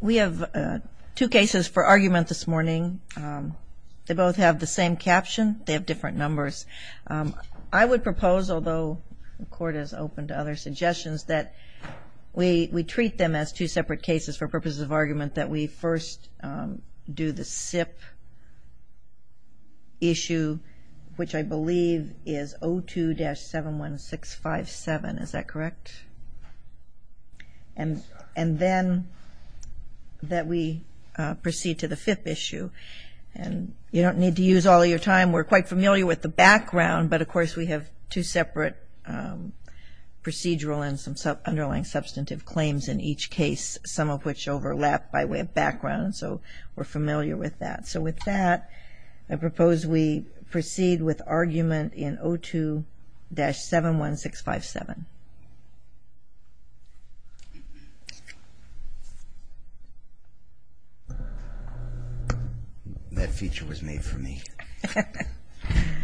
We have two cases for argument this morning. They both have the same caption. They have different numbers. I would propose, although the Court is open to other suggestions, that we treat them as two separate cases for purposes of argument, that we first do the SIP issue, which I believe is 02-71657. Is that correct? And then that we proceed to the fifth issue. And you don't need to use all of your time. We're quite familiar with the background, but of course we have two separate procedural and some underlying substantive claims in each case, some of which overlap by way of background. So we're familiar with that. So with that, I propose we proceed with argument in 02-71657. That feature was made for me.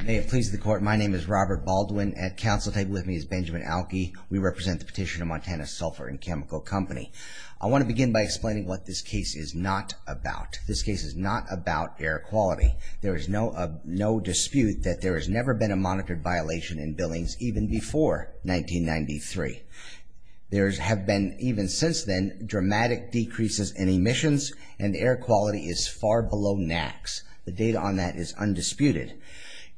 May it please the Court, my name is Robert Baldwin. At counsel table with me is Benjamin Alke. We represent the petitioner, Montana Sulphur & Chemical Company. I want to begin by explaining what this case is not about. This case is not about air quality. There is no dispute that there has never been a monitored violation in Billings even before 1993. There have been, even since then, dramatic decreases in emissions and air quality is far below NAAQS. The data on that is undisputed.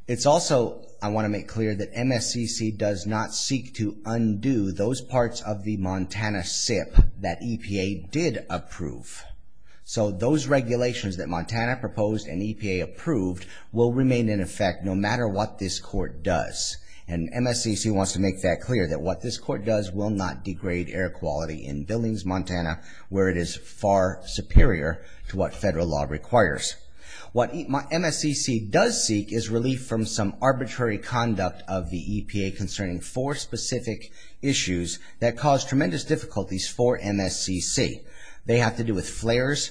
It's also, I want to make clear, that MSCC does not seek to undo those parts of the Montana SIP that EPA did approve. So those regulations that Montana proposed and EPA approved will remain in effect no matter what this Court does. And MSCC wants to make that clear, that what this Court does will not degrade air quality in Billings, Montana, where it is far superior to what federal law requires. What MSCC does seek is relief from some arbitrary conduct of the EPA concerning four specific issues that cause tremendous difficulties for MSCC. They have to do with flares,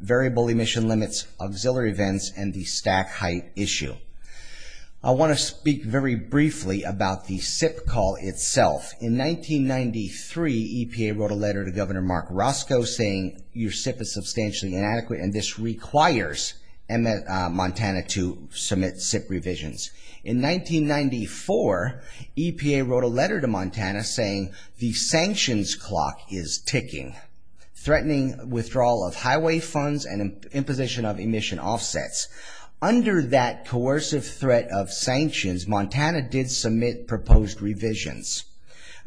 variable emission limits, auxiliary vents, and the stack height issue. I want to speak very briefly about the SIP call itself. In 1993, EPA wrote a letter to Governor Mark Roscoe saying your SIP is substantially inadequate and this requires Montana to submit SIP revisions. In 1994, EPA wrote a letter to Montana saying the sanctions clock is ticking, threatening withdrawal of highway funds and imposition of emission offsets. Under that coercive threat of sanctions, Montana did submit proposed revisions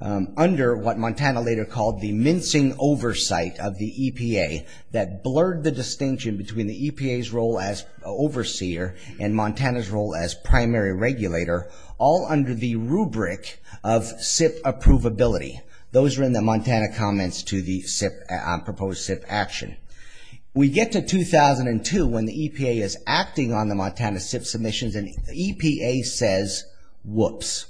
under what Montana later called the mincing oversight of the EPA that blurred the distinction between the EPA's role as overseer and Montana's role as primary regulator, all under the rubric of SIP approvability. Those were in the Montana comments to the proposed SIP action. We get to 2002 when the EPA is acting on the Montana SIP submissions and the EPA says, whoops.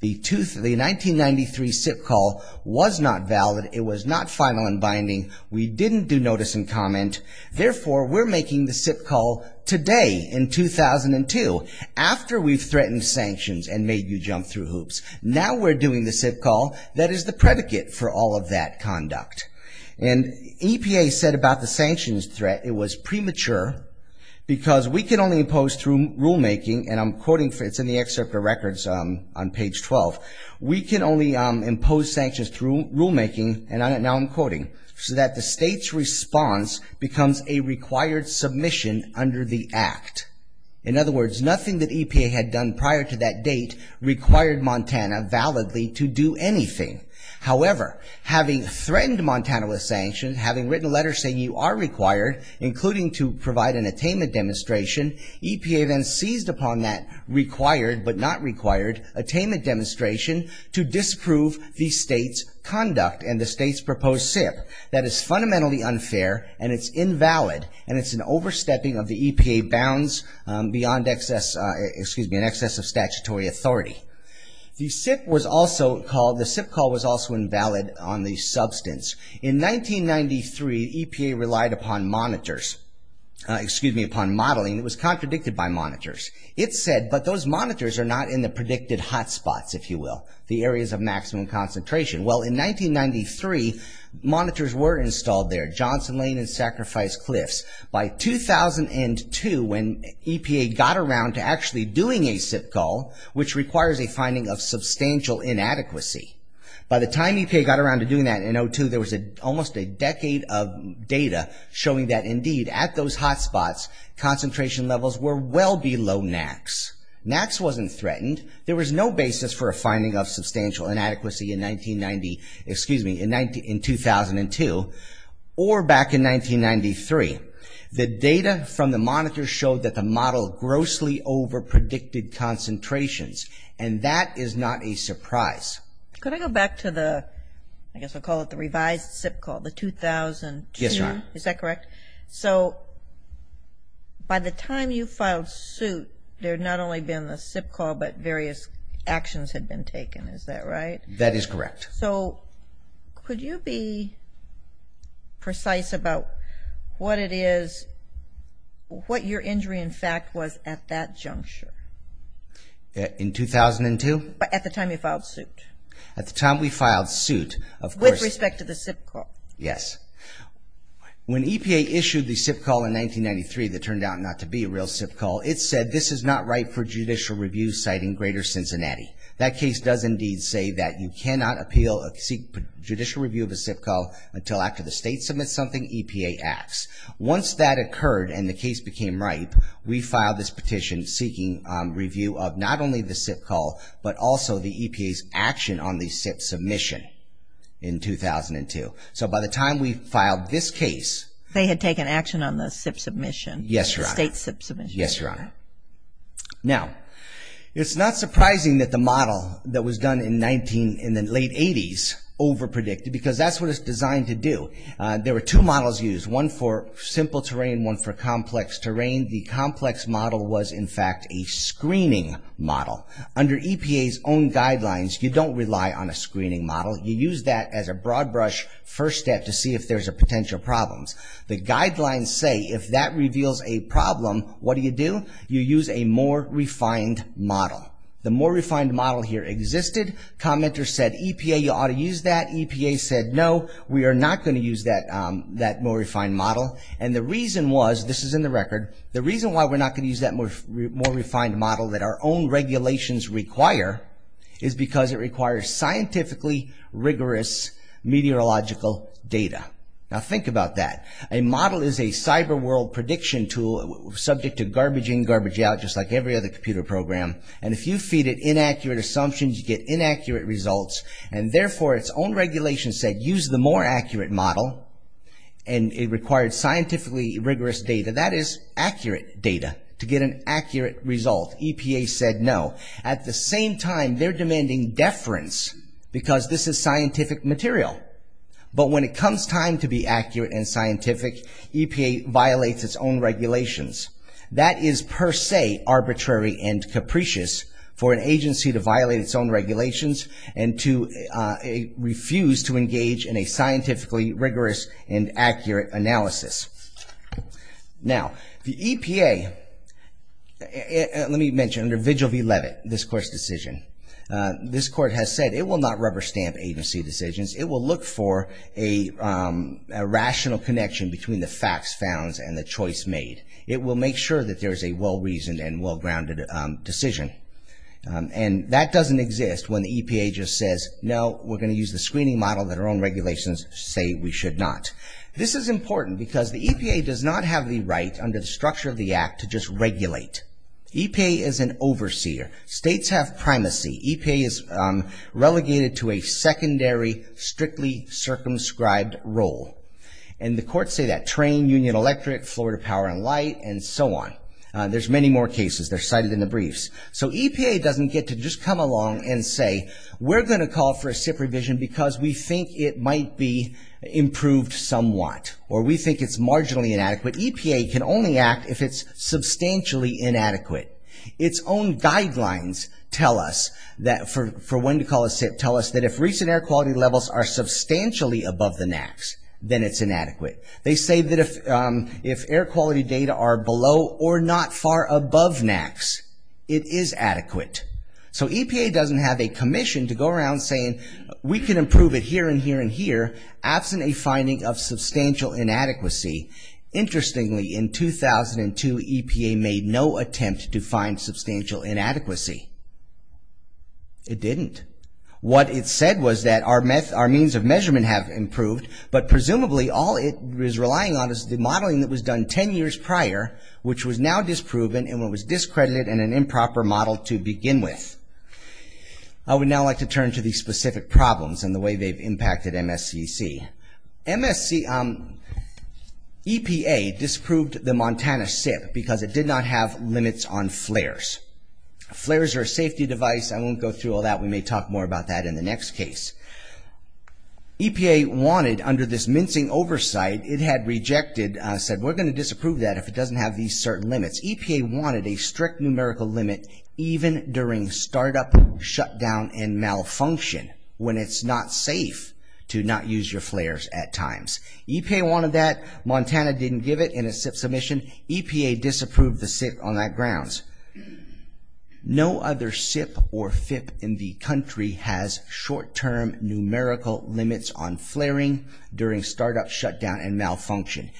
The 1993 SIP call was not valid. It was not final and binding. We didn't do notice and comment. Therefore, we're making the SIP call today in 2002. After we threatened sanctions and made you jump through hoops, now we're doing the SIP call that is the predicate for all of that conduct. And EPA said about the sanctions threat, it was premature because we can only impose through rulemaking and I'm quoting, it's in the excerpt of records on page 12. We can only impose sanctions through rulemaking and now I'm quoting, so that the state's response becomes a required submission under the act. In other words, nothing that EPA had done prior to that date required Montana validly to do anything. However, having threatened Montana with sanctions, having written a letter saying you are required, including to provide an attainment demonstration, EPA then seized upon that required but not required attainment demonstration to disprove the state's conduct and the state's proposed SIP. That is fundamentally unfair and it's invalid and it's an overstepping of the EPA bounds beyond an excess of statutory authority. The SIP call was also invalid on the substance. In 1993, EPA relied upon monitors, excuse me, upon modeling. It was contradicted by monitors. It said, but those monitors are not in the predicted hotspots, if you will, the areas of maximum concentration. Well, in 1993, monitors were installed there. Johnson Lane and Sacrifice Cliffs. By 2002, when EPA got around to actually doing a SIP call, which requires a finding of substantial inadequacy, by the time EPA got around to doing that in 2002, there was almost a decade of data showing that, indeed, at those hotspots, concentration levels were well below NAAQS. NAAQS wasn't threatened. There was no basis for a finding of substantial inadequacy in 1990, excuse me, in 2002, or back in 1993. The data from the monitors showed that the model grossly overpredicted concentrations, and that is not a surprise. Could I go back to the, I guess I'll call it the revised SIP call, the 2002? Yes, ma'am. Is that correct? So by the time you filed suit, there had not only been the SIP call, but various actions had been taken, is that right? That is correct. So could you be precise about what it is, what your injury, in fact, was at that juncture? In 2002? At the time you filed suit. At the time we filed suit, of course. With respect to the SIP call. Yes. When EPA issued the SIP call in 1993 that turned out not to be a real SIP call, it said this is not right for judicial review, citing Greater Cincinnati. That case does indeed say that you cannot appeal a judicial review of a SIP call until after the state submits something, EPA acts. Once that occurred and the case became ripe, we filed this petition seeking review of not only the SIP call, but also the EPA's action on the SIP submission in 2002. So by the time we filed this case. They had taken action on the SIP submission. The state SIP submission. Yes, Your Honor. Now, it's not surprising that the model that was done in the late 80s overpredicted, because that's what it's designed to do. There were two models used, one for simple terrain, one for complex terrain. The complex model was, in fact, a screening model. Under EPA's own guidelines, you don't rely on a screening model. You use that as a broad brush first step to see if there's potential problems. The guidelines say if that reveals a problem, what do you do? You use a more refined model. The more refined model here existed. Commenters said, EPA, you ought to use that. EPA said, no, we are not going to use that more refined model. And the reason was, this is in the record, the reason why we're not going to use that more refined model that our own regulations require is because it requires scientifically rigorous meteorological data. Now, think about that. A model is a cyber world prediction tool subject to garbage in, garbage out, just like every other computer program. And if you feed it inaccurate assumptions, you get inaccurate results. And therefore, its own regulations said, use the more accurate model. And it required scientifically rigorous data. That is accurate data to get an accurate result. EPA said, no. At the same time, they're demanding deference because this is scientific material. But when it comes time to be accurate and scientific, EPA violates its own regulations. That is per se arbitrary and capricious for an agency to violate its own regulations and to refuse to engage in a scientifically rigorous and accurate analysis. Now, the EPA, let me mention, under Vigil v. Levitt, this court's decision, this court has said it will not rubber stamp agency decisions. It will look for a rational connection between the facts found and the choice made. It will make sure that there is a well-reasoned and well-grounded decision. And that doesn't exist when the EPA just says, no, we're going to use the screening model that our own regulations say we should not. This is important because the EPA does not have the right, under the structure of the Act, to just regulate. EPA is an overseer. States have primacy. EPA is relegated to a secondary, strictly circumscribed role. And the courts say that. Train, Union Electric, Florida Power and Light, and so on. There's many more cases. They're cited in the briefs. So EPA doesn't get to just come along and say, we're going to call for a SIP revision because we think it might be improved somewhat, or we think it's marginally inadequate. EPA can only act if it's substantially inadequate. Its own guidelines tell us that, for when to call a SIP, tell us that if recent air quality levels are substantially above the NAAQS, then it's inadequate. They say that if air quality data are below or not far above NAAQS, it is adequate. So EPA doesn't have a commission to go around saying, we can improve it here and here and here, absent a finding of substantial inadequacy. Interestingly, in 2002, EPA made no attempt to find substantial inadequacy. It didn't. What it said was that our means of measurement have improved, but presumably all it is relying on is the modeling that was done ten years prior, which was now disproven and was discredited and an improper model to begin with. I would now like to turn to the specific problems and the way they've impacted MSCC. EPA disapproved the Montana SIP because it did not have limits on flares. Flares are a safety device. I won't go through all that. We may talk more about that in the next case. EPA wanted, under this mincing oversight, it had rejected and said, we're going to disapprove that if it doesn't have these certain limits. EPA wanted a strict numerical limit, even during startup shutdown and malfunction, when it's not safe to not use your flares at times. EPA wanted that. Montana didn't give it in a SIP submission. EPA disapproved the SIP on that grounds. No other SIP or FIP in the country has short-term numerical limits on flaring during startup shutdown and malfunction.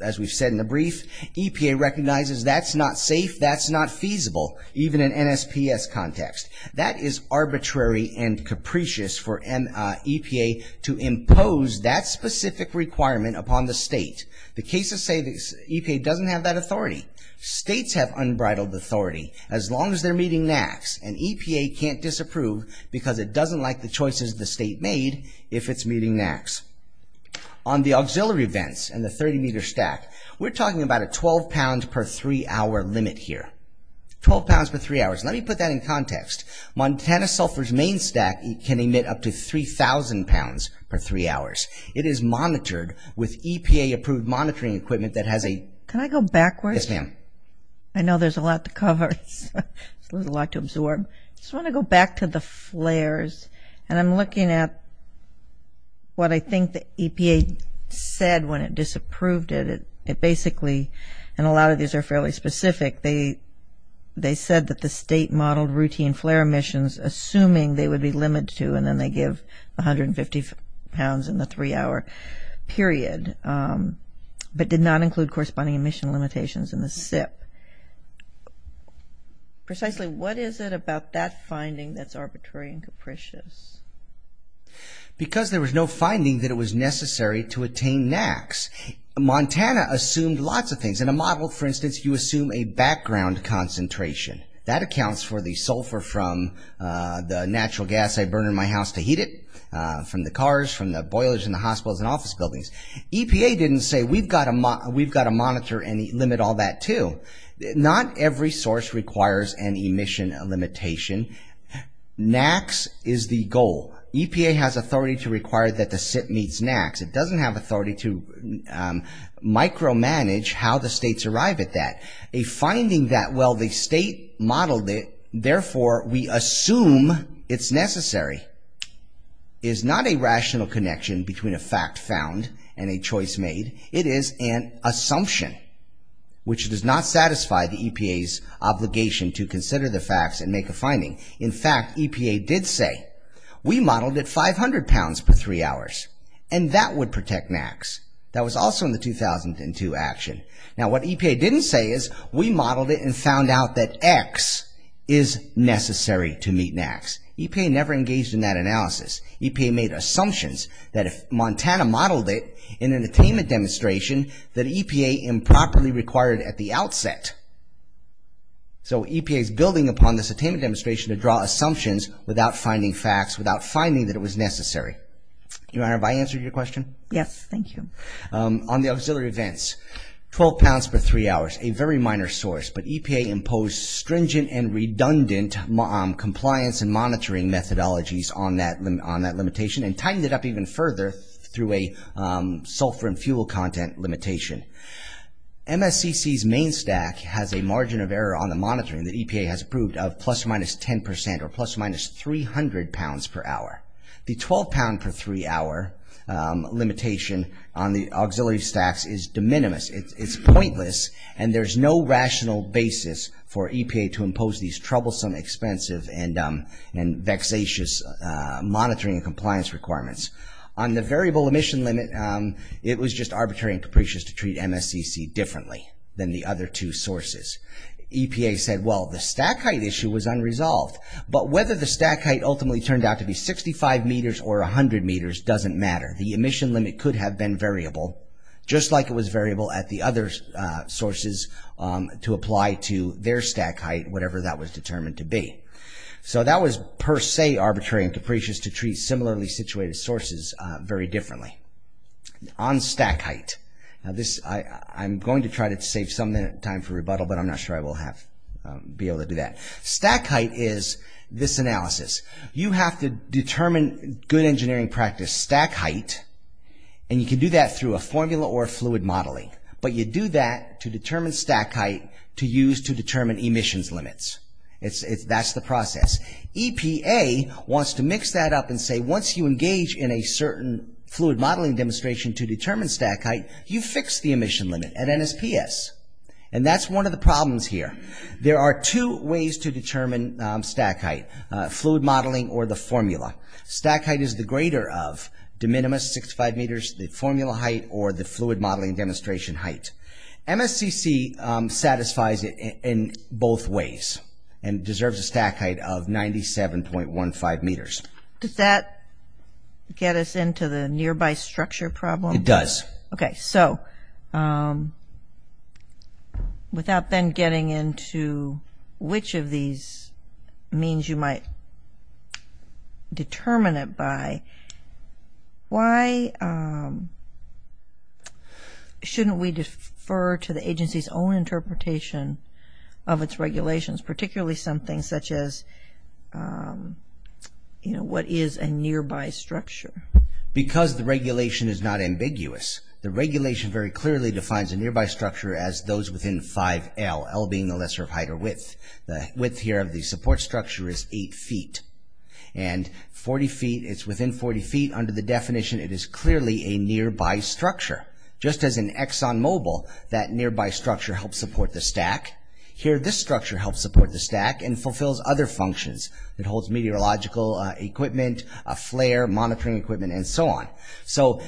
As we've said in the brief, EPA recognizes that's not safe, that's not feasible, even in an NSPS context. That is arbitrary and capricious for EPA to impose that specific requirement upon the state. The cases say EPA doesn't have that authority. States have unbridled authority. As long as they're meeting NAAQS, an EPA can't disapprove because it doesn't like the choices the state made if it's meeting NAAQS. On the auxiliary vents and the 30-meter stack, we're talking about a 12-pound per three-hour limit here. 12 pounds per three hours. Let me put that in context. Montana Sulphur's main stack can emit up to 3,000 pounds per three hours. It is monitored with EPA-approved monitoring equipment that has a... Can I go backwards? Yes, ma'am. I know there's a lot to cover. There's a lot to absorb. I just want to go back to the flares, and I'm looking at what I think the EPA said when it disapproved it. It basically, and a lot of these are fairly specific, they said that the state modeled routine flare emissions assuming they would be limited to, and then they give 150 pounds in the three-hour period, but did not include corresponding emission limitations in the SIP. Precisely, what is it about that finding that's arbitrary and capricious? Because there was no finding that it was necessary to attain NAAQS, Montana assumed lots of things. In a model, for instance, you assume a background concentration. That accounts for the sulfur from the natural gas I burn in my house to heat it, from the cars, from the boilers in the hospitals and office buildings. EPA didn't say, we've got to monitor and limit all that, too. Not every source requires an emission limitation. NAAQS is the goal. EPA has authority to require that the SIP meets NAAQS. It doesn't have authority to micromanage how the states arrive at that. A finding that, well, the state modeled it, therefore, we assume it's necessary, is not a rational connection between a fact found and a choice made. It is an assumption, which does not satisfy the EPA's obligation to consider the facts and make a finding. In fact, EPA did say, we modeled at 500 pounds per three hours, and that would protect NAAQS. That was also in the 2002 action. Now, what EPA didn't say is, we modeled it and found out that X is necessary to meet NAAQS. EPA never engaged in that analysis. EPA made assumptions that if Montana modeled it in an attainment demonstration, that EPA improperly required at the outset. So EPA is building upon this attainment demonstration to draw assumptions without finding facts, without finding that it was necessary. Your Honor, have I answered your question? Yes, thank you. On the auxiliary events, 12 pounds per three hours, a very minor source, but EPA imposed stringent and redundant compliance and monitoring methodologies on that limitation and tightened it up even further through a sulfur and fuel content limitation. MSCC's main stack has a margin of error on the monitoring that EPA has approved of plus or minus 10 percent or plus or minus 300 pounds per hour. The 12 pound per three hour limitation on the auxiliary stacks is de minimis. It's pointless and there's no rational basis for EPA to impose these troublesome, expensive and vexatious monitoring and compliance requirements. On the variable emission limit, it was just arbitrary and capricious to treat MSCC differently than the other two sources. EPA said, well, the stack height issue was unresolved, but whether the stack height ultimately turned out to be 65 meters or 100 meters doesn't matter. The emission limit could have been variable, just like it was variable at the other sources to apply to their stack height, whatever that was determined to be. So that was per se arbitrary and capricious to treat similarly situated sources very differently. On stack height, I'm going to try to save some time for rebuttal, but I'm not sure I will be able to do that. Stack height is this analysis. You have to determine, good engineering practice, stack height, and you can do that through a formula or a fluid modeling. But you do that to determine stack height to use to determine emissions limits. That's the process. EPA wants to mix that up and say once you engage in a certain fluid modeling demonstration to determine stack height, you fix the emission limit at NSPS. And that's one of the problems here. There are two ways to determine stack height. Fluid modeling or the formula. Stack height is the greater of de minimis, 65 meters, the formula height, or the fluid modeling demonstration height. MSCC satisfies it in both ways and deserves a stack height of 97.15 meters. Does that get us into the nearby structure problem? It does. Okay, so, without then getting into which of these means you might determine it by, why shouldn't we defer to the agency's own interpretation of its regulations, particularly something such as what is a nearby structure? Because the regulation is not ambiguous. The regulation very clearly defines a nearby structure as those within 5L, L being the lesser of height or width. The width here of the support structure is 8 feet. And 40 feet, it's within 40 feet, under the definition, it is clearly a nearby structure. Just as in Exxon Mobil, that nearby structure helps support the stack, here this structure helps support the stack and fulfills other functions. It holds meteorological equipment, a flare, monitoring equipment, and so on. So,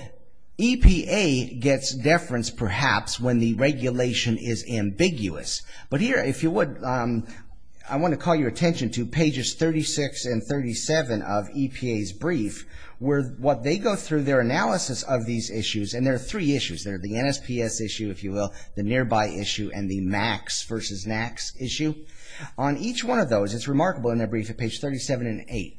EPA gets deference perhaps when the regulation is ambiguous. But here, if you would, I want to call your attention to pages 36 and 37 of EPA's brief, where what they go through, their analysis of these issues, and there are three issues. There are the NSPS issue, if you will, the nearby issue, and the MACS versus NACS issue. On each one of those, it's remarkable in their brief at pages 37 and 8,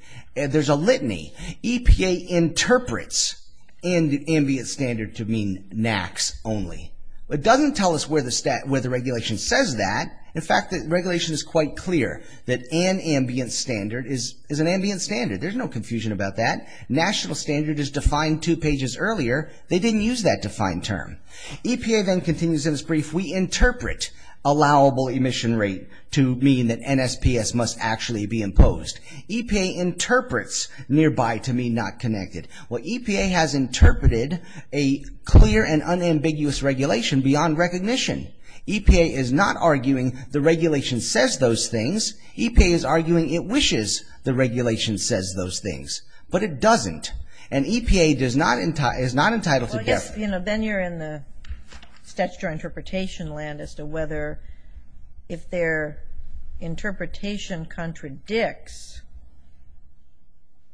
there's a litany. EPA interprets ambiguous standard to mean NACS only. It doesn't tell us where the regulation says that. In fact, the regulation is quite clear that an ambient standard is an ambient standard. There's no confusion about that. National standard is defined two pages earlier. They didn't use that defined term. EPA then continues in its brief, we interpret allowable emission rate to mean that NSPS must actually be imposed. EPA interprets nearby to mean not connected. Well, EPA has interpreted a clear and unambiguous regulation beyond recognition. EPA is not arguing the regulation says those things. EPA is arguing it wishes the regulation says those things. But it doesn't. And EPA is not entitled to... Well, yes, you know, then you're in the statutory interpretation land as to whether, if their interpretation contradicts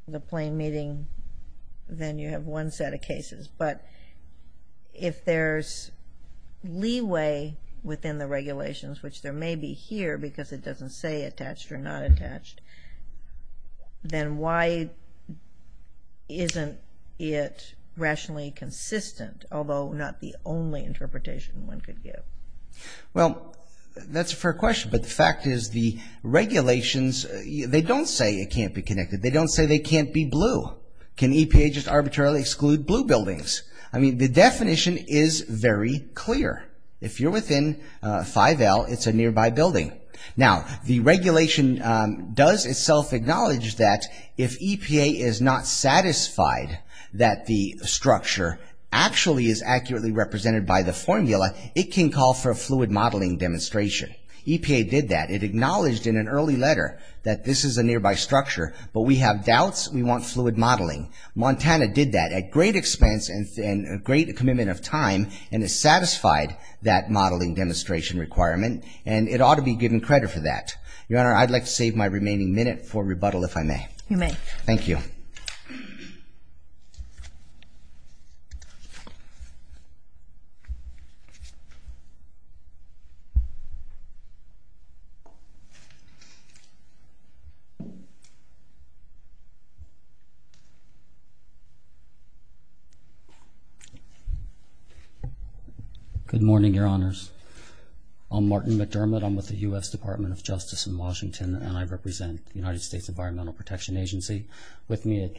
the plain meaning, then you have one set of cases. But if there's leeway within the regulations, which there may be here because it doesn't say attached or not attached, then why isn't it rationally consistent, although not the only interpretation one could give? Well, that's a fair question. But the fact is the regulations, they don't say it can't be connected. They don't say they can't be blue. Can EPA just arbitrarily exclude blue buildings? I mean, the definition is very clear. If you're within 5L, it's a nearby building. Now, the regulation does itself acknowledge that if EPA is not satisfied that the structure actually is accurately represented by the formula, it can call for a fluid modeling demonstration. EPA did that. It acknowledged in an early letter that this is a nearby structure, but we have doubts. We want fluid modeling. Montana did that at great expense and a great commitment of time and has satisfied that modeling demonstration requirement, and it ought to be given credit for that. Your Honor, I'd like to save my remaining minute for rebuttal, if I may. You may. Thank you. Good morning, Your Honors. I'm Martin McDermott. I'm with the U.S. Department of Justice in Washington, and I represent the United States Environmental Protection Agency. With me at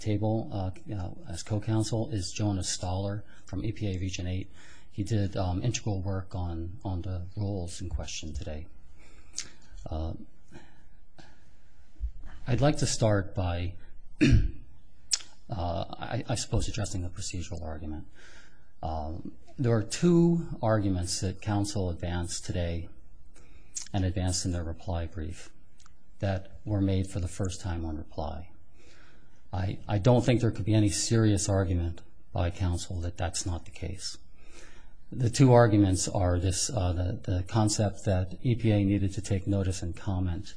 table as co-counsel is Jonas Stahler from EPA Region 8. He did integral work on the rules in question today. I'd like to start by, I suppose, addressing the procedural argument. There are two arguments that counsel advanced today and advanced in their reply brief that were made for the first time on reply. I don't think there could be any serious argument by counsel that that's not the case. The two arguments are the concept that EPA needed to take notice and comment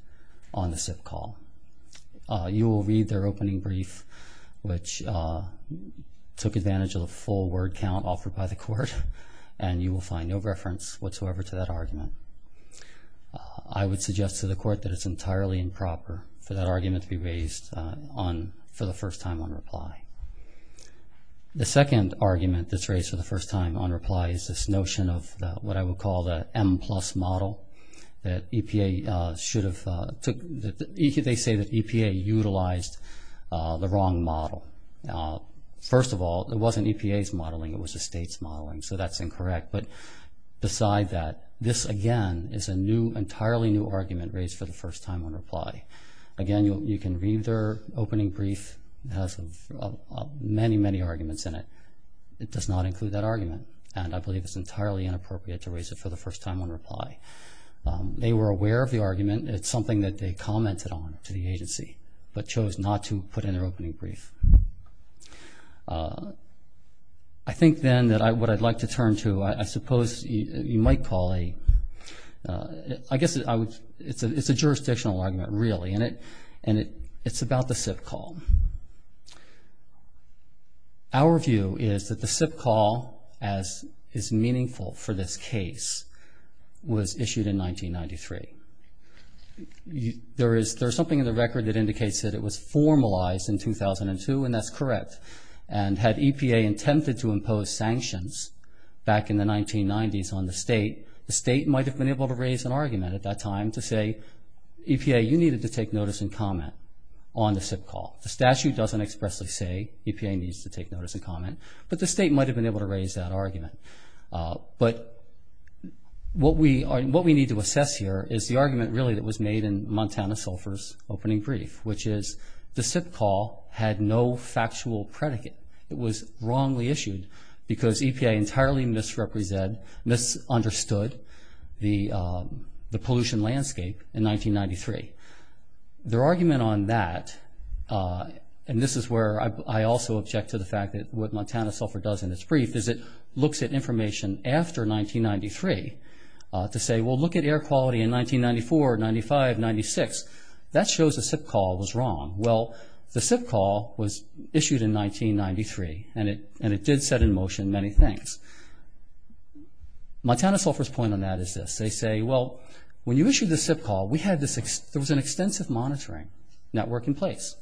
on the SIP call. You will read their opening brief, which took advantage of the full word count offered by the court, and you will find no reference whatsoever to that argument. I would suggest to the court that it's entirely improper for that argument to be raised for the first time on reply. The second argument that's raised for the first time on reply is this notion of what I would call the M-plus model, that they say that EPA utilized the wrong model. First of all, it wasn't EPA's modeling. It was the state's modeling, so that's incorrect. But beside that, this, again, is an entirely new argument raised for the first time on reply. Again, you can read their opening brief. It has many, many arguments in it. It does not include that argument, and I believe it's entirely inappropriate to raise it for the first time on reply. They were aware of the argument. It's something that they commented on to the agency, but chose not to put in their opening brief. I think then that what I'd like to turn to, I suppose you might call a, I guess it's a jurisdictional argument, really, and it's about the SIP call. Our view is that the SIP call, as is meaningful for this case, was issued in 1993. There is something in the record that indicates that it was formalized in 2002, and that's correct. And had EPA attempted to impose sanctions back in the 1990s on the state, the state might have been able to raise an argument at that time to say, EPA, you needed to take notice and comment on the SIP call. The statute doesn't expressly say EPA needs to take notice and comment, but the state might have been able to raise that argument. But what we need to assess here is the argument, really, that was made in Montana Sulphur's opening brief, which is the SIP call had no factual predicate. It was wrongly issued because EPA entirely misrepresented, misunderstood the pollution landscape in 1993. Their argument on that, and this is where I also object to the fact that what Montana Sulphur does in its brief, is it looks at information after 1993 to say, well, look at air quality in 1994, 95, 96. That shows the SIP call was wrong. Well, the SIP call was issued in 1993, and it did set in motion many things. Montana Sulphur's point on that is this. They say, well, when you issued the SIP call, there was an extensive monitoring network in place,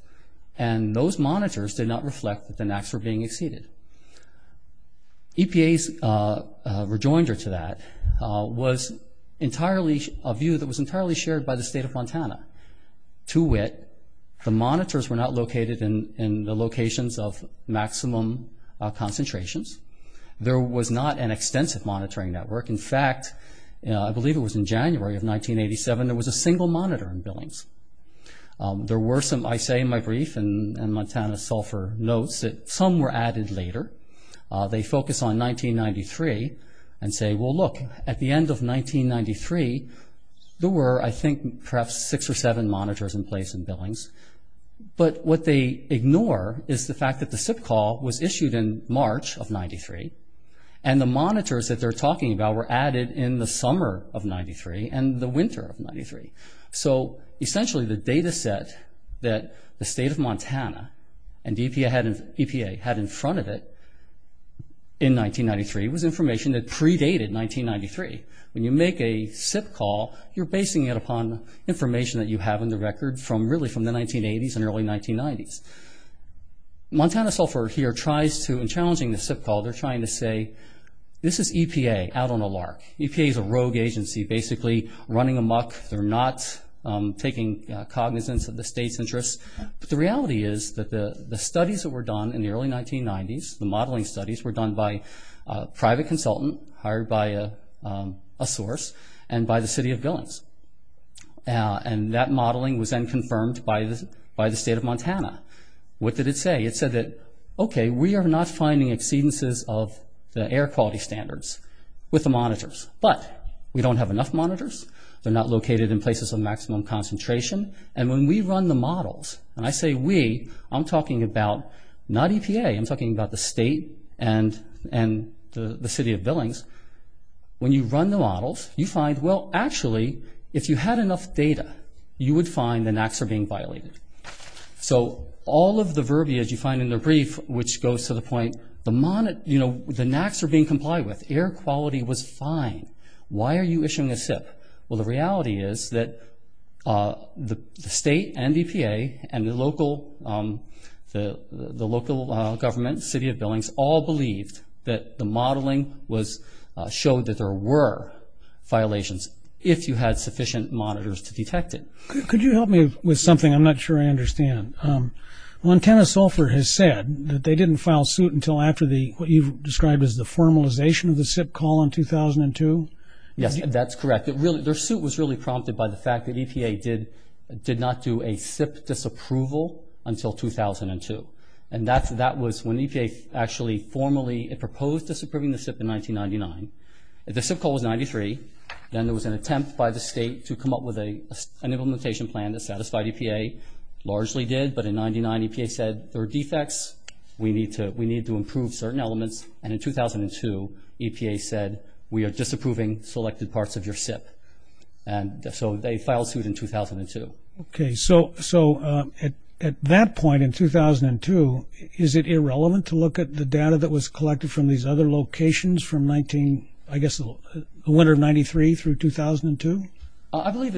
and those monitors did not reflect that the NACs were being exceeded. EPA's rejoinder to that was a view that was entirely shared by the state of Montana. To wit, the monitors were not located in the locations of maximum concentrations. There was not an extensive monitoring network. In fact, I believe it was in January of 1987, there was a single monitor in Billings. There were some, I say in my brief, and Montana Sulphur notes that some were added later. They focus on 1993 and say, well, look, at the end of 1993, there were, I think, perhaps six or seven monitors in place in Billings. But what they ignore is the fact that the SIP call was issued in March of 1993, and the monitors that they're talking about were added in the summer of 1993 and the winter of 1993. So essentially the data set that the state of Montana and EPA had in front of it in 1993 was information that predated 1993. When you make a SIP call, you're basing it upon information that you have in the record from really from the 1980s and early 1990s. Montana Sulphur here tries to, in challenging the SIP call, they're trying to say, this is EPA out on a lark. EPA is a rogue agency, basically running amok. They're not taking cognizance of the state's interests. But the reality is that the studies that were done in the early 1990s, the modeling studies were done by a private consultant hired by a source and by the city of Billings. And that modeling was then confirmed by the state of Montana. What did it say? It said that, okay, we are not finding exceedances of the air quality standards with the monitors. But we don't have enough monitors. They're not located in places of maximum concentration. And when we run the models, and I say we, I'm talking about not EPA. I'm talking about the state and the city of Billings. When you run the models, you find, well, actually, if you had enough data, you would find the NACs are being violated. So all of the verbiage you find in the brief, which goes to the point, the NACs are being complied with. Air quality was fine. Why are you issuing a SIP? Well, the reality is that the state and EPA and the local government, city of Billings, all believed that the modeling showed that there were violations, if you had sufficient monitors to detect it. Could you help me with something? I'm not sure I understand. Montana Sulphur has said that they didn't file suit until after what you've described as the formalization of the SIP call in 2002? Yes, that's correct. Their suit was really prompted by the fact that EPA did not do a SIP disapproval until 2002. And that was when EPA actually formally proposed disapproving the SIP in 1999. The SIP call was in 93. Then there was an attempt by the state to come up with an implementation plan that satisfied EPA, largely did. But in 99, EPA said, there are defects, we need to improve certain elements. And in 2002, EPA said, we are disapproving selected parts of your SIP. And so they filed suit in 2002. Okay. So at that point in 2002, is it irrelevant to look at the data that was collected from these other locations from, I guess, the winter of 93 through 2002? I believe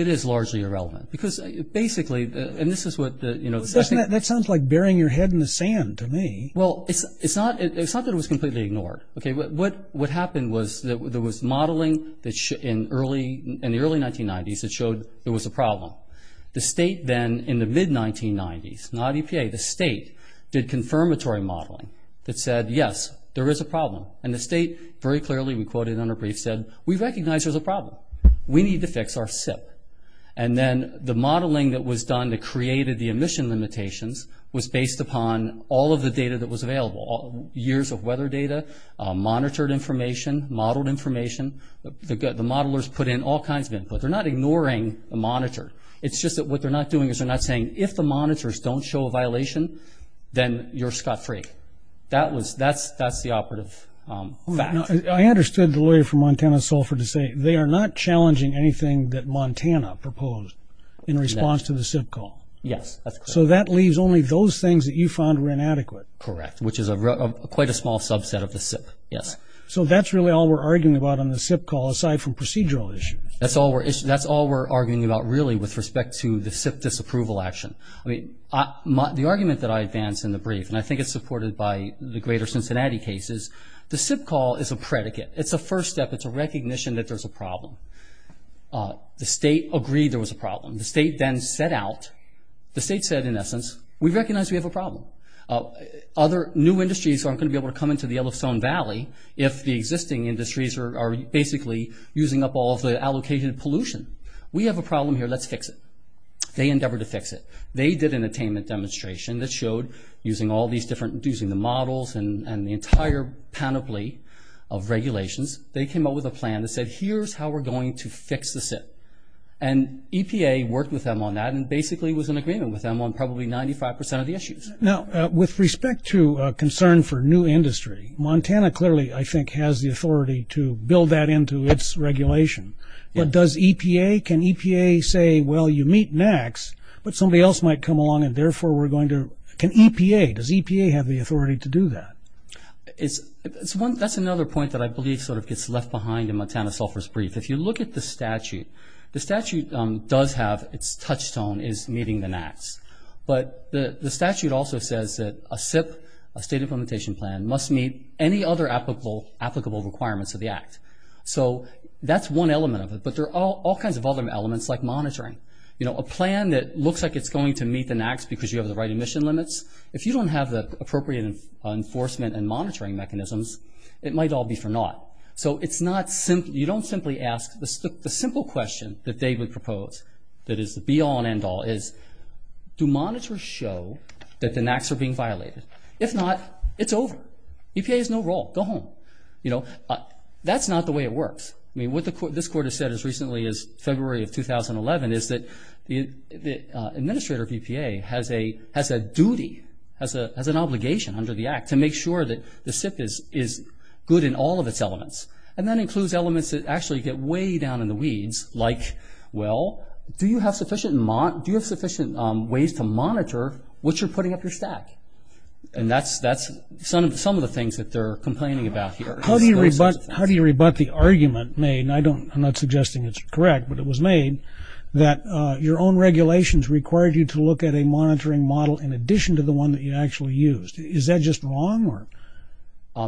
it is largely irrelevant. Because basically, and this is what, you know. That sounds like burying your head in the sand to me. Well, it's not that it was completely ignored. Okay. What happened was there was modeling in the early 1990s that showed there was a problem. The state then, in the mid-1990s, not EPA, the state did confirmatory modeling that said, yes, there is a problem. And the state very clearly, we quoted in our brief, said, we recognize there's a problem. We need to fix our SIP. And then the modeling that was done that created the emission limitations was based upon all of the data that was available. Years of weather data, monitored information, modeled information. The modelers put in all kinds of input. They're not ignoring the monitor. It's just that what they're not doing is they're not saying, if the monitors don't show a violation, then you're scot-free. That's the operative fact. I understood the lawyer from Montana, Sulphur, to say, they are not challenging anything that Montana proposed in response to the SIP call. Yes, that's correct. So that leaves only those things that you found were inadequate. Correct, which is quite a small subset of the SIP, yes. So that's really all we're arguing about on the SIP call, aside from procedural issues. That's all we're arguing about, really, with respect to the SIP disapproval action. The argument that I advance in the brief, and I think it's supported by the greater Cincinnati cases, the SIP call is a predicate. It's a first step. It's a recognition that there's a problem. The state agreed there was a problem. The state then set out. The state said, in essence, we recognize we have a problem. New industries aren't going to be able to come into the Yellowstone Valley if the existing industries are basically using up all of the allocated pollution. We have a problem here. Let's fix it. They endeavored to fix it. They did an attainment demonstration that showed, using the models and the entire panoply of regulations, they came up with a plan that said, here's how we're going to fix the SIP. And EPA worked with them on that and basically was in agreement with them on probably 95 percent of the issues. Now, with respect to concern for new industry, Montana clearly, I think, has the authority to build that into its regulation. But does EPA? Can EPA say, well, you meet Max, but somebody else might come along and therefore we're going to – can EPA – does EPA have the authority to do that? That's another point that I believe sort of gets left behind in Montana Sulphur's brief. If you look at the statute, the statute does have – its touchstone is meeting the NAAQS. But the statute also says that a SIP, a state implementation plan, must meet any other applicable requirements of the act. So that's one element of it, but there are all kinds of other elements, like monitoring. You know, a plan that looks like it's going to meet the NAAQS because you have the right emission limits, if you don't have the appropriate enforcement and monitoring mechanisms, it might all be for naught. So it's not – you don't simply ask – the simple question that they would propose that is the be-all and end-all is, do monitors show that the NAAQS are being violated? If not, it's over. EPA has no role. Go home. You know, that's not the way it works. I mean, what this court has said as recently as February of 2011 is that the administrator of EPA has a duty, has an obligation under the act to make sure that the SIP is good in all of its elements. And that includes elements that actually get way down in the weeds, like, well, do you have sufficient ways to monitor what you're putting up your stack? And that's some of the things that they're complaining about here. How do you rebut the argument made – and I'm not suggesting it's correct, but it was made – that your own regulations required you to look at a monitoring model in addition to the one that you actually used. Is that just wrong?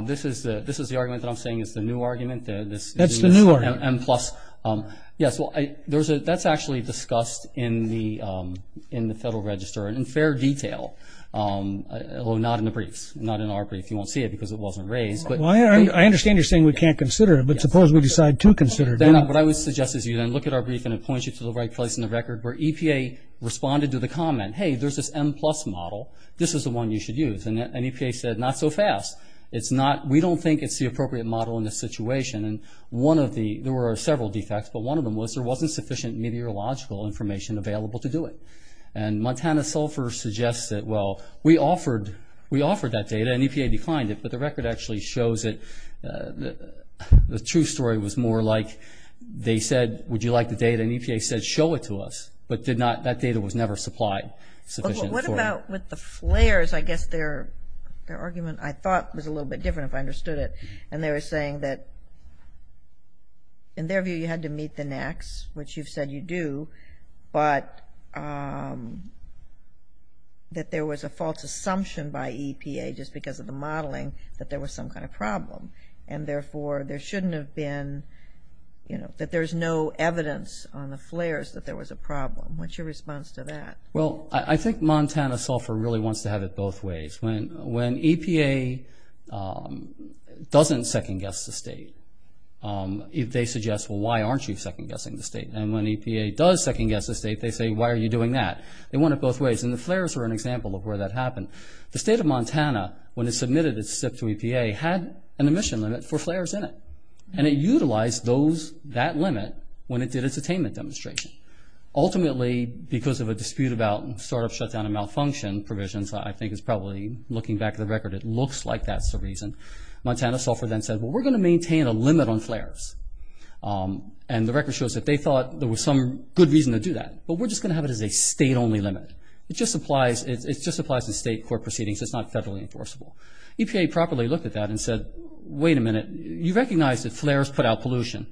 This is the argument that I'm saying is the new argument. That's the new argument. M-plus. Yes, well, that's actually discussed in the Federal Register in fair detail, although not in the briefs, not in our brief. You won't see it because it wasn't raised. I understand you're saying we can't consider it, but suppose we decide to consider it. What I would suggest is you then look at our brief, and it points you to the right place in the record where EPA responded to the comment, hey, there's this M-plus model. This is the one you should use. And EPA said, not so fast. We don't think it's the appropriate model in this situation. And there were several defects, but one of them was there wasn't sufficient meteorological information available to do it. And Montana Sulphur suggests that, well, we offered that data, and EPA declined it, but the record actually shows it. The true story was more like they said, would you like the data, and EPA said, show it to us, but did not. That data was never supplied sufficiently. What about with the flares? I guess their argument, I thought, was a little bit different if I understood it. And they were saying that, in their view, you had to meet the NACs, which you've said you do, but that there was a false assumption by EPA just because of the modeling that there was some kind of problem. And, therefore, there shouldn't have been, you know, that there's no evidence on the flares that there was a problem. What's your response to that? Well, I think Montana Sulphur really wants to have it both ways. When EPA doesn't second-guess the state, they suggest, well, why aren't you second-guessing the state? And when EPA does second-guess the state, they say, why are you doing that? They want it both ways, and the flares were an example of where that happened. The state of Montana, when it submitted its SIP to EPA, had an emission limit for flares in it, and it utilized that limit when it did its attainment demonstration. Ultimately, because of a dispute about startup shutdown and malfunction provisions, I think it's probably, looking back at the record, it looks like that's the reason, Montana Sulphur then said, well, we're going to maintain a limit on flares. And the record shows that they thought there was some good reason to do that, but we're just going to have it as a state-only limit. It just applies to state court proceedings. It's not federally enforceable. EPA properly looked at that and said, wait a minute. You recognize that flares put out pollution.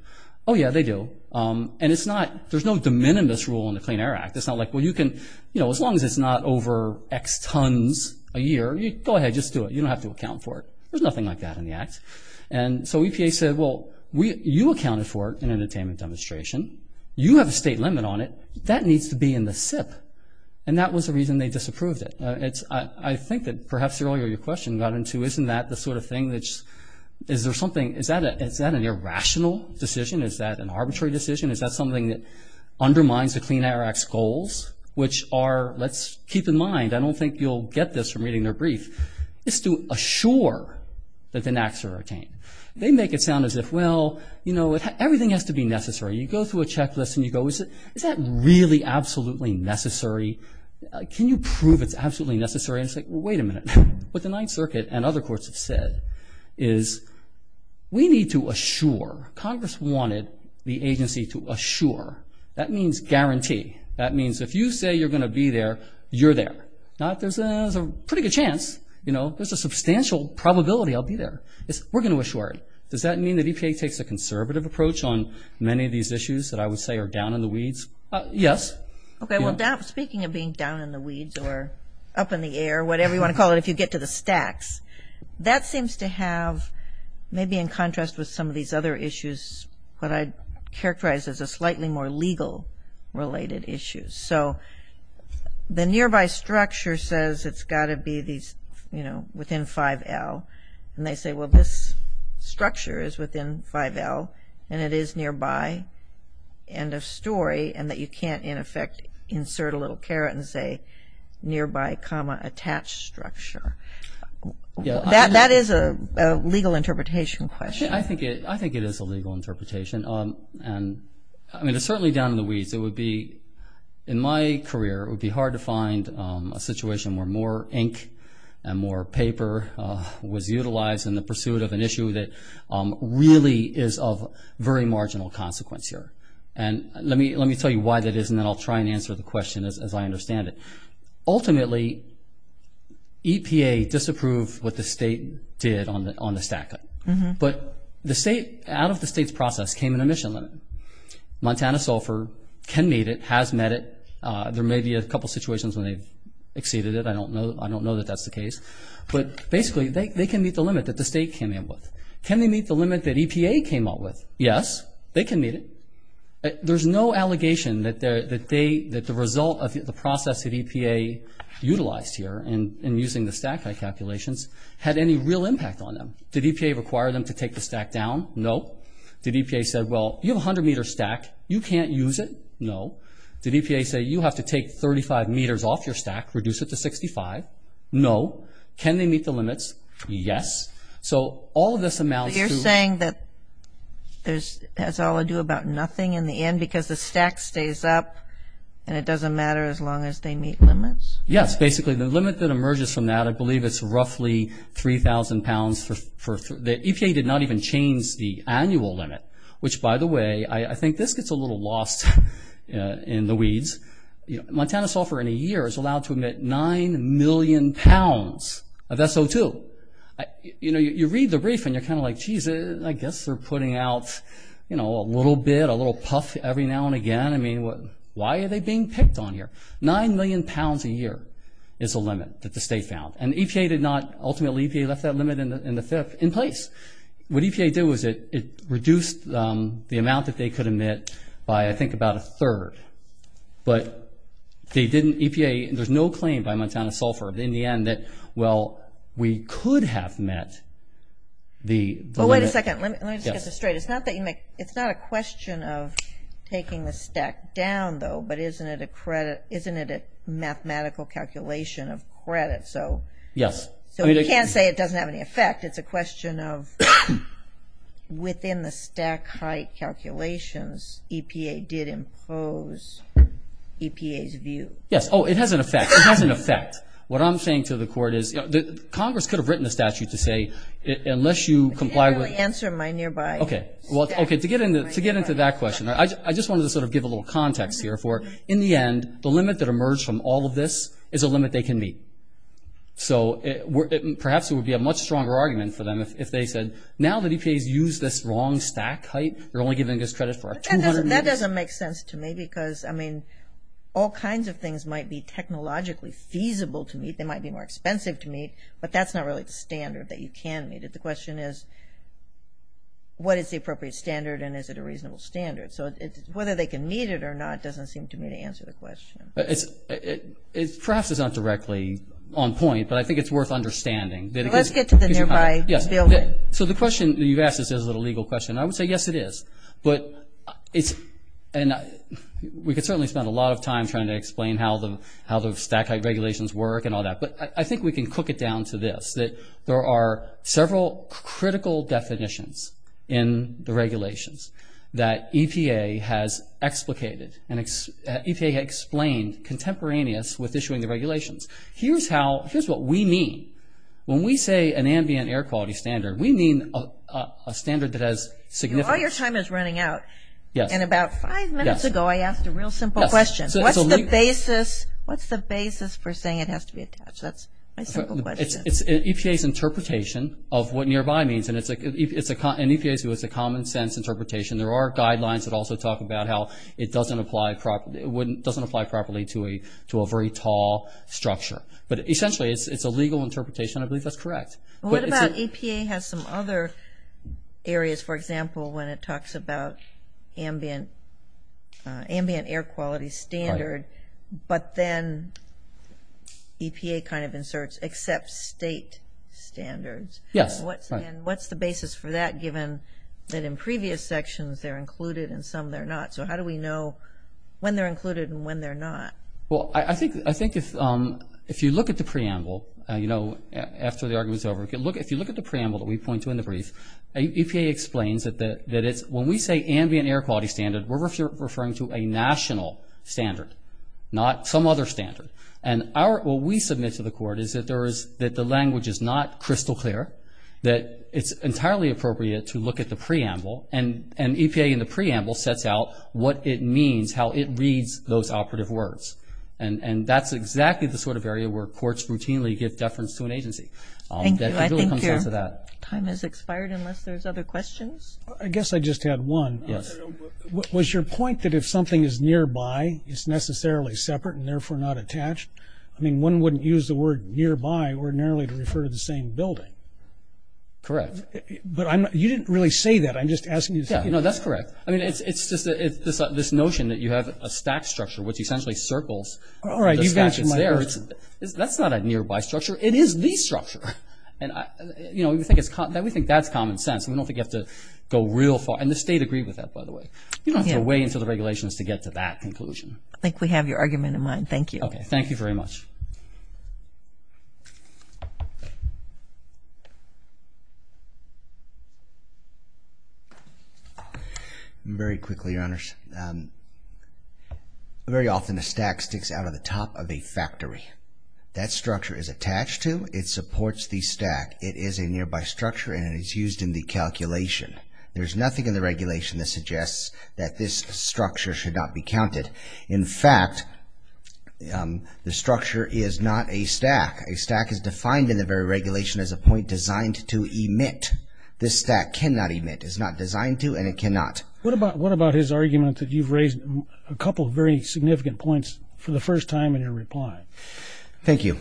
Oh, yeah, they do, and it's not, there's no de minimis rule in the Clean Air Act. It's not like, well, you can, you know, as long as it's not over X tons a year, go ahead, just do it. You don't have to account for it. There's nothing like that in the act. And so EPA said, well, you accounted for it in an attainment demonstration. You have a state limit on it. That needs to be in the SIP, and that was the reason they disapproved it. I think that perhaps earlier your question got into, isn't that the sort of thing that's, is there something, is that an irrational decision? Is that an arbitrary decision? Is that something that undermines the Clean Air Act's goals, which are, let's keep in mind, I don't think you'll get this from reading their brief. It's to assure that the NACs are attained. They make it sound as if, well, you know, everything has to be necessary. You go through a checklist and you go, is that really absolutely necessary? Can you prove it's absolutely necessary? And it's like, well, wait a minute. What the Ninth Circuit and other courts have said is we need to assure. Congress wanted the agency to assure. That means guarantee. That means if you say you're going to be there, you're there. There's a pretty good chance, you know, there's a substantial probability I'll be there. We're going to assure it. Does that mean the EPA takes a conservative approach on many of these issues that I would say are down in the weeds? Yes. Okay, well, speaking of being down in the weeds or up in the air, whatever you want to call it if you get to the stacks, that seems to have maybe in contrast with some of these other issues what I'd characterize as a slightly more legal-related issue. So the nearby structure says it's got to be these, you know, within 5L. And they say, well, this structure is within 5L and it is nearby, end of story, and that you can't, in effect, insert a little caret and say nearby, comma, attached structure. That is a legal interpretation question. I think it is a legal interpretation. And, I mean, it's certainly down in the weeds. It would be, in my career, it would be hard to find a situation where more ink and more paper was utilized in the pursuit of an issue that really is of very marginal consequence here. And let me tell you why that is, and then I'll try and answer the question as I understand it. Ultimately, EPA disapproved what the state did on the stack. But the state, out of the state's process, came an emission limit. Montana Sulphur can meet it, has met it. There may be a couple situations when they've exceeded it. I don't know that that's the case. But, basically, they can meet the limit that the state came in with. Can they meet the limit that EPA came up with? Yes, they can meet it. There's no allegation that the result of the process that EPA utilized here in using the stack height calculations had any real impact on them. Did EPA require them to take the stack down? No. Did EPA say, well, you have a 100-meter stack, you can't use it? No. Did EPA say, you have to take 35 meters off your stack, reduce it to 65? No. Can they meet the limits? Yes. So all of this amounts to- You're saying that it has all to do about nothing in the end because the stack stays up and it doesn't matter as long as they meet limits? Yes. Basically, the limit that emerges from that, I believe it's roughly 3,000 pounds. EPA did not even change the annual limit, which, by the way, I think this gets a little lost in the weeds. Montana software in a year is allowed to emit 9 million pounds of SO2. You read the brief and you're kind of like, jeez, I guess they're putting out a little bit, a little puff every now and again. I mean, why are they being picked on here? Nine million pounds a year is the limit that the state found. And EPA did not, ultimately EPA left that limit in the fifth in place. What EPA did was it reduced the amount that they could emit by, I think, about a third. But they didn't, EPA, there's no claim by Montana software in the end that, well, we could have met the limit. Oh, wait a second. Let me just get this straight. It's not a question of taking the stack down, though, but isn't it a mathematical calculation of credit? Yes. So you can't say it doesn't have any effect. It's a question of within the stack height calculations, EPA did impose EPA's view. Yes. Oh, it has an effect. It has an effect. What I'm saying to the court is Congress could have written a statute to say unless you comply with ‑‑ You didn't really answer my nearby stack. Okay. To get into that question, I just wanted to sort of give a little context here for, in the end, the limit that emerged from all of this is a limit they can meet. So perhaps it would be a much stronger argument for them if they said, now that EPA's used this wrong stack height, you're only giving us credit for 200 meters. That doesn't make sense to me because, I mean, all kinds of things might be technologically feasible to meet, they might be more expensive to meet, but that's not really the standard that you can meet. The question is, what is the appropriate standard and is it a reasonable standard? So whether they can meet it or not doesn't seem to me to answer the question. Perhaps it's not directly on point, but I think it's worth understanding. Let's get to the nearby spillway. So the question you've asked is a legal question. I would say, yes, it is. But we could certainly spend a lot of time trying to explain how the stack height regulations work and all that. But I think we can cook it down to this, that there are several critical definitions in the regulations that EPA has explicated and EPA explained contemporaneous with issuing the regulations. Here's what we mean. When we say an ambient air quality standard, we mean a standard that has significance. All your time is running out. Yes. And about five minutes ago I asked a real simple question. Yes. What's the basis for saying it has to be attached? That's my simple question. It's EPA's interpretation of what nearby means. And it's a common sense interpretation. There are guidelines that also talk about how it doesn't apply properly to a very tall structure. But essentially it's a legal interpretation. I believe that's correct. What about EPA has some other areas, for example, when it talks about ambient air quality standard, but then EPA kind of inserts except state standards. Yes. What's the basis for that given that in previous sections they're included and some they're not? So how do we know when they're included and when they're not? Well, I think if you look at the preamble, you know, after the argument is over, if you look at the preamble that we point to in the brief, EPA explains that when we say ambient air quality standard, we're referring to a national standard, not some other standard. And what we submit to the court is that the language is not crystal clear, that it's entirely appropriate to look at the preamble, and EPA in the preamble sets out what it means, how it reads those operative words. And that's exactly the sort of area where courts routinely give deference to an agency. Thank you. I think your time has expired unless there's other questions. I guess I just had one. Yes. Was your point that if something is nearby, it's necessarily separate and therefore not attached? I mean, one wouldn't use the word nearby ordinarily to refer to the same building. Correct. But you didn't really say that. I'm just asking you to say that. No, that's correct. I mean, it's just this notion that you have a stack structure, which essentially circles. All right, you've answered my question. That's not a nearby structure. It is the structure. And, you know, we think that's common sense. We don't think you have to go real far. And the state agreed with that, by the way. You don't have to go way into the regulations to get to that conclusion. I think we have your argument in mind. Thank you. Okay, thank you very much. Very quickly, Your Honors. Very often a stack sticks out of the top of a factory. That structure is attached to. It supports the stack. It is a nearby structure, and it is used in the calculation. There's nothing in the regulation that suggests that this structure should not be counted. In fact, the structure is not a stack. A stack is defined in the very regulation as a point designed to emit. This stack cannot emit. It's not designed to, and it cannot. What about his argument that you've raised a couple of very significant points for the first time in your reply? Thank you.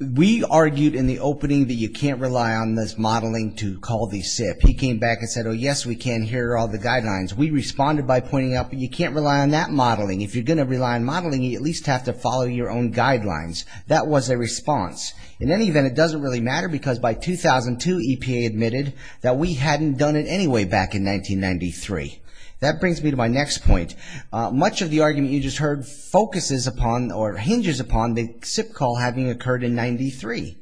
We argued in the opening that you can't rely on this modeling to call the SIP. He came back and said, oh, yes, we can hear all the guidelines. We responded by pointing out that you can't rely on that modeling. If you're going to rely on modeling, you at least have to follow your own guidelines. That was their response. In any event, it doesn't really matter because by 2002, EPA admitted that we hadn't done it anyway back in 1993. That brings me to my next point. Much of the argument you just heard hinges upon the SIP call having occurred in 1993.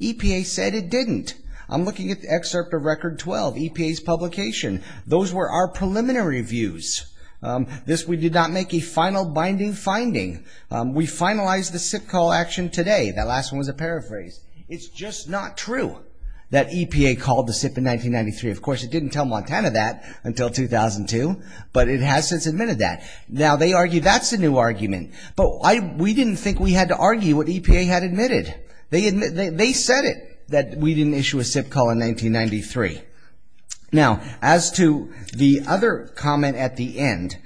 EPA said it didn't. I'm looking at the excerpt of Record 12, EPA's publication. Those were our preliminary views. We did not make a final binding finding. We finalized the SIP call action today. That last one was a paraphrase. It's just not true that EPA called the SIP in 1993. Of course, it didn't tell Montana that until 2002, but it has since admitted that. Now, they argue that's a new argument, but we didn't think we had to argue what EPA had admitted. They said it, that we didn't issue a SIP call in 1993. Now, as to the other comment at the end,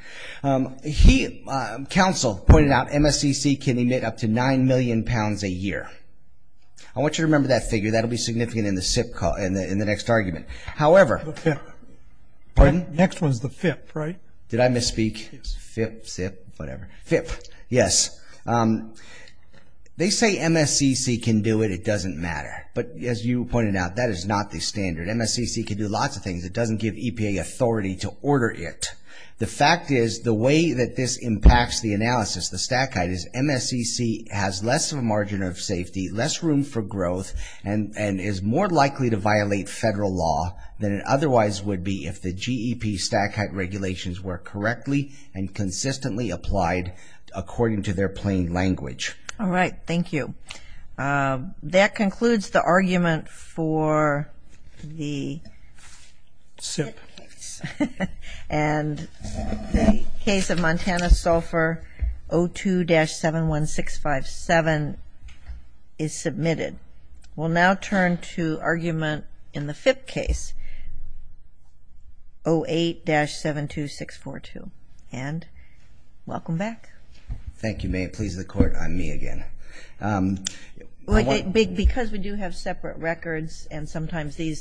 Council pointed out MSCC can emit up to 9 million pounds a year. I want you to remember that figure. That will be significant in the SIP call, in the next argument. However— The FIP. Pardon? Next one is the FIP, right? Did I misspeak? FIP, SIP, whatever. FIP, yes. They say MSCC can do it. It doesn't matter. But as you pointed out, that is not the standard. MSCC can do lots of things. It doesn't give EPA authority to order it. The fact is the way that this impacts the analysis, the stack height, is MSCC has less of a margin of safety, less room for growth, and is more likely to violate federal law than it otherwise would be if the GEP stack height regulations were correctly and consistently applied according to their plain language. All right. Thank you. That concludes the argument for the SIP case. And the case of Montana Sulphur, O2-71657, is submitted. We'll now turn to argument in the FIP case, O8-72642. And welcome back. Thank you. May it please the Court, I'm me again. Because we do have separate records and sometimes these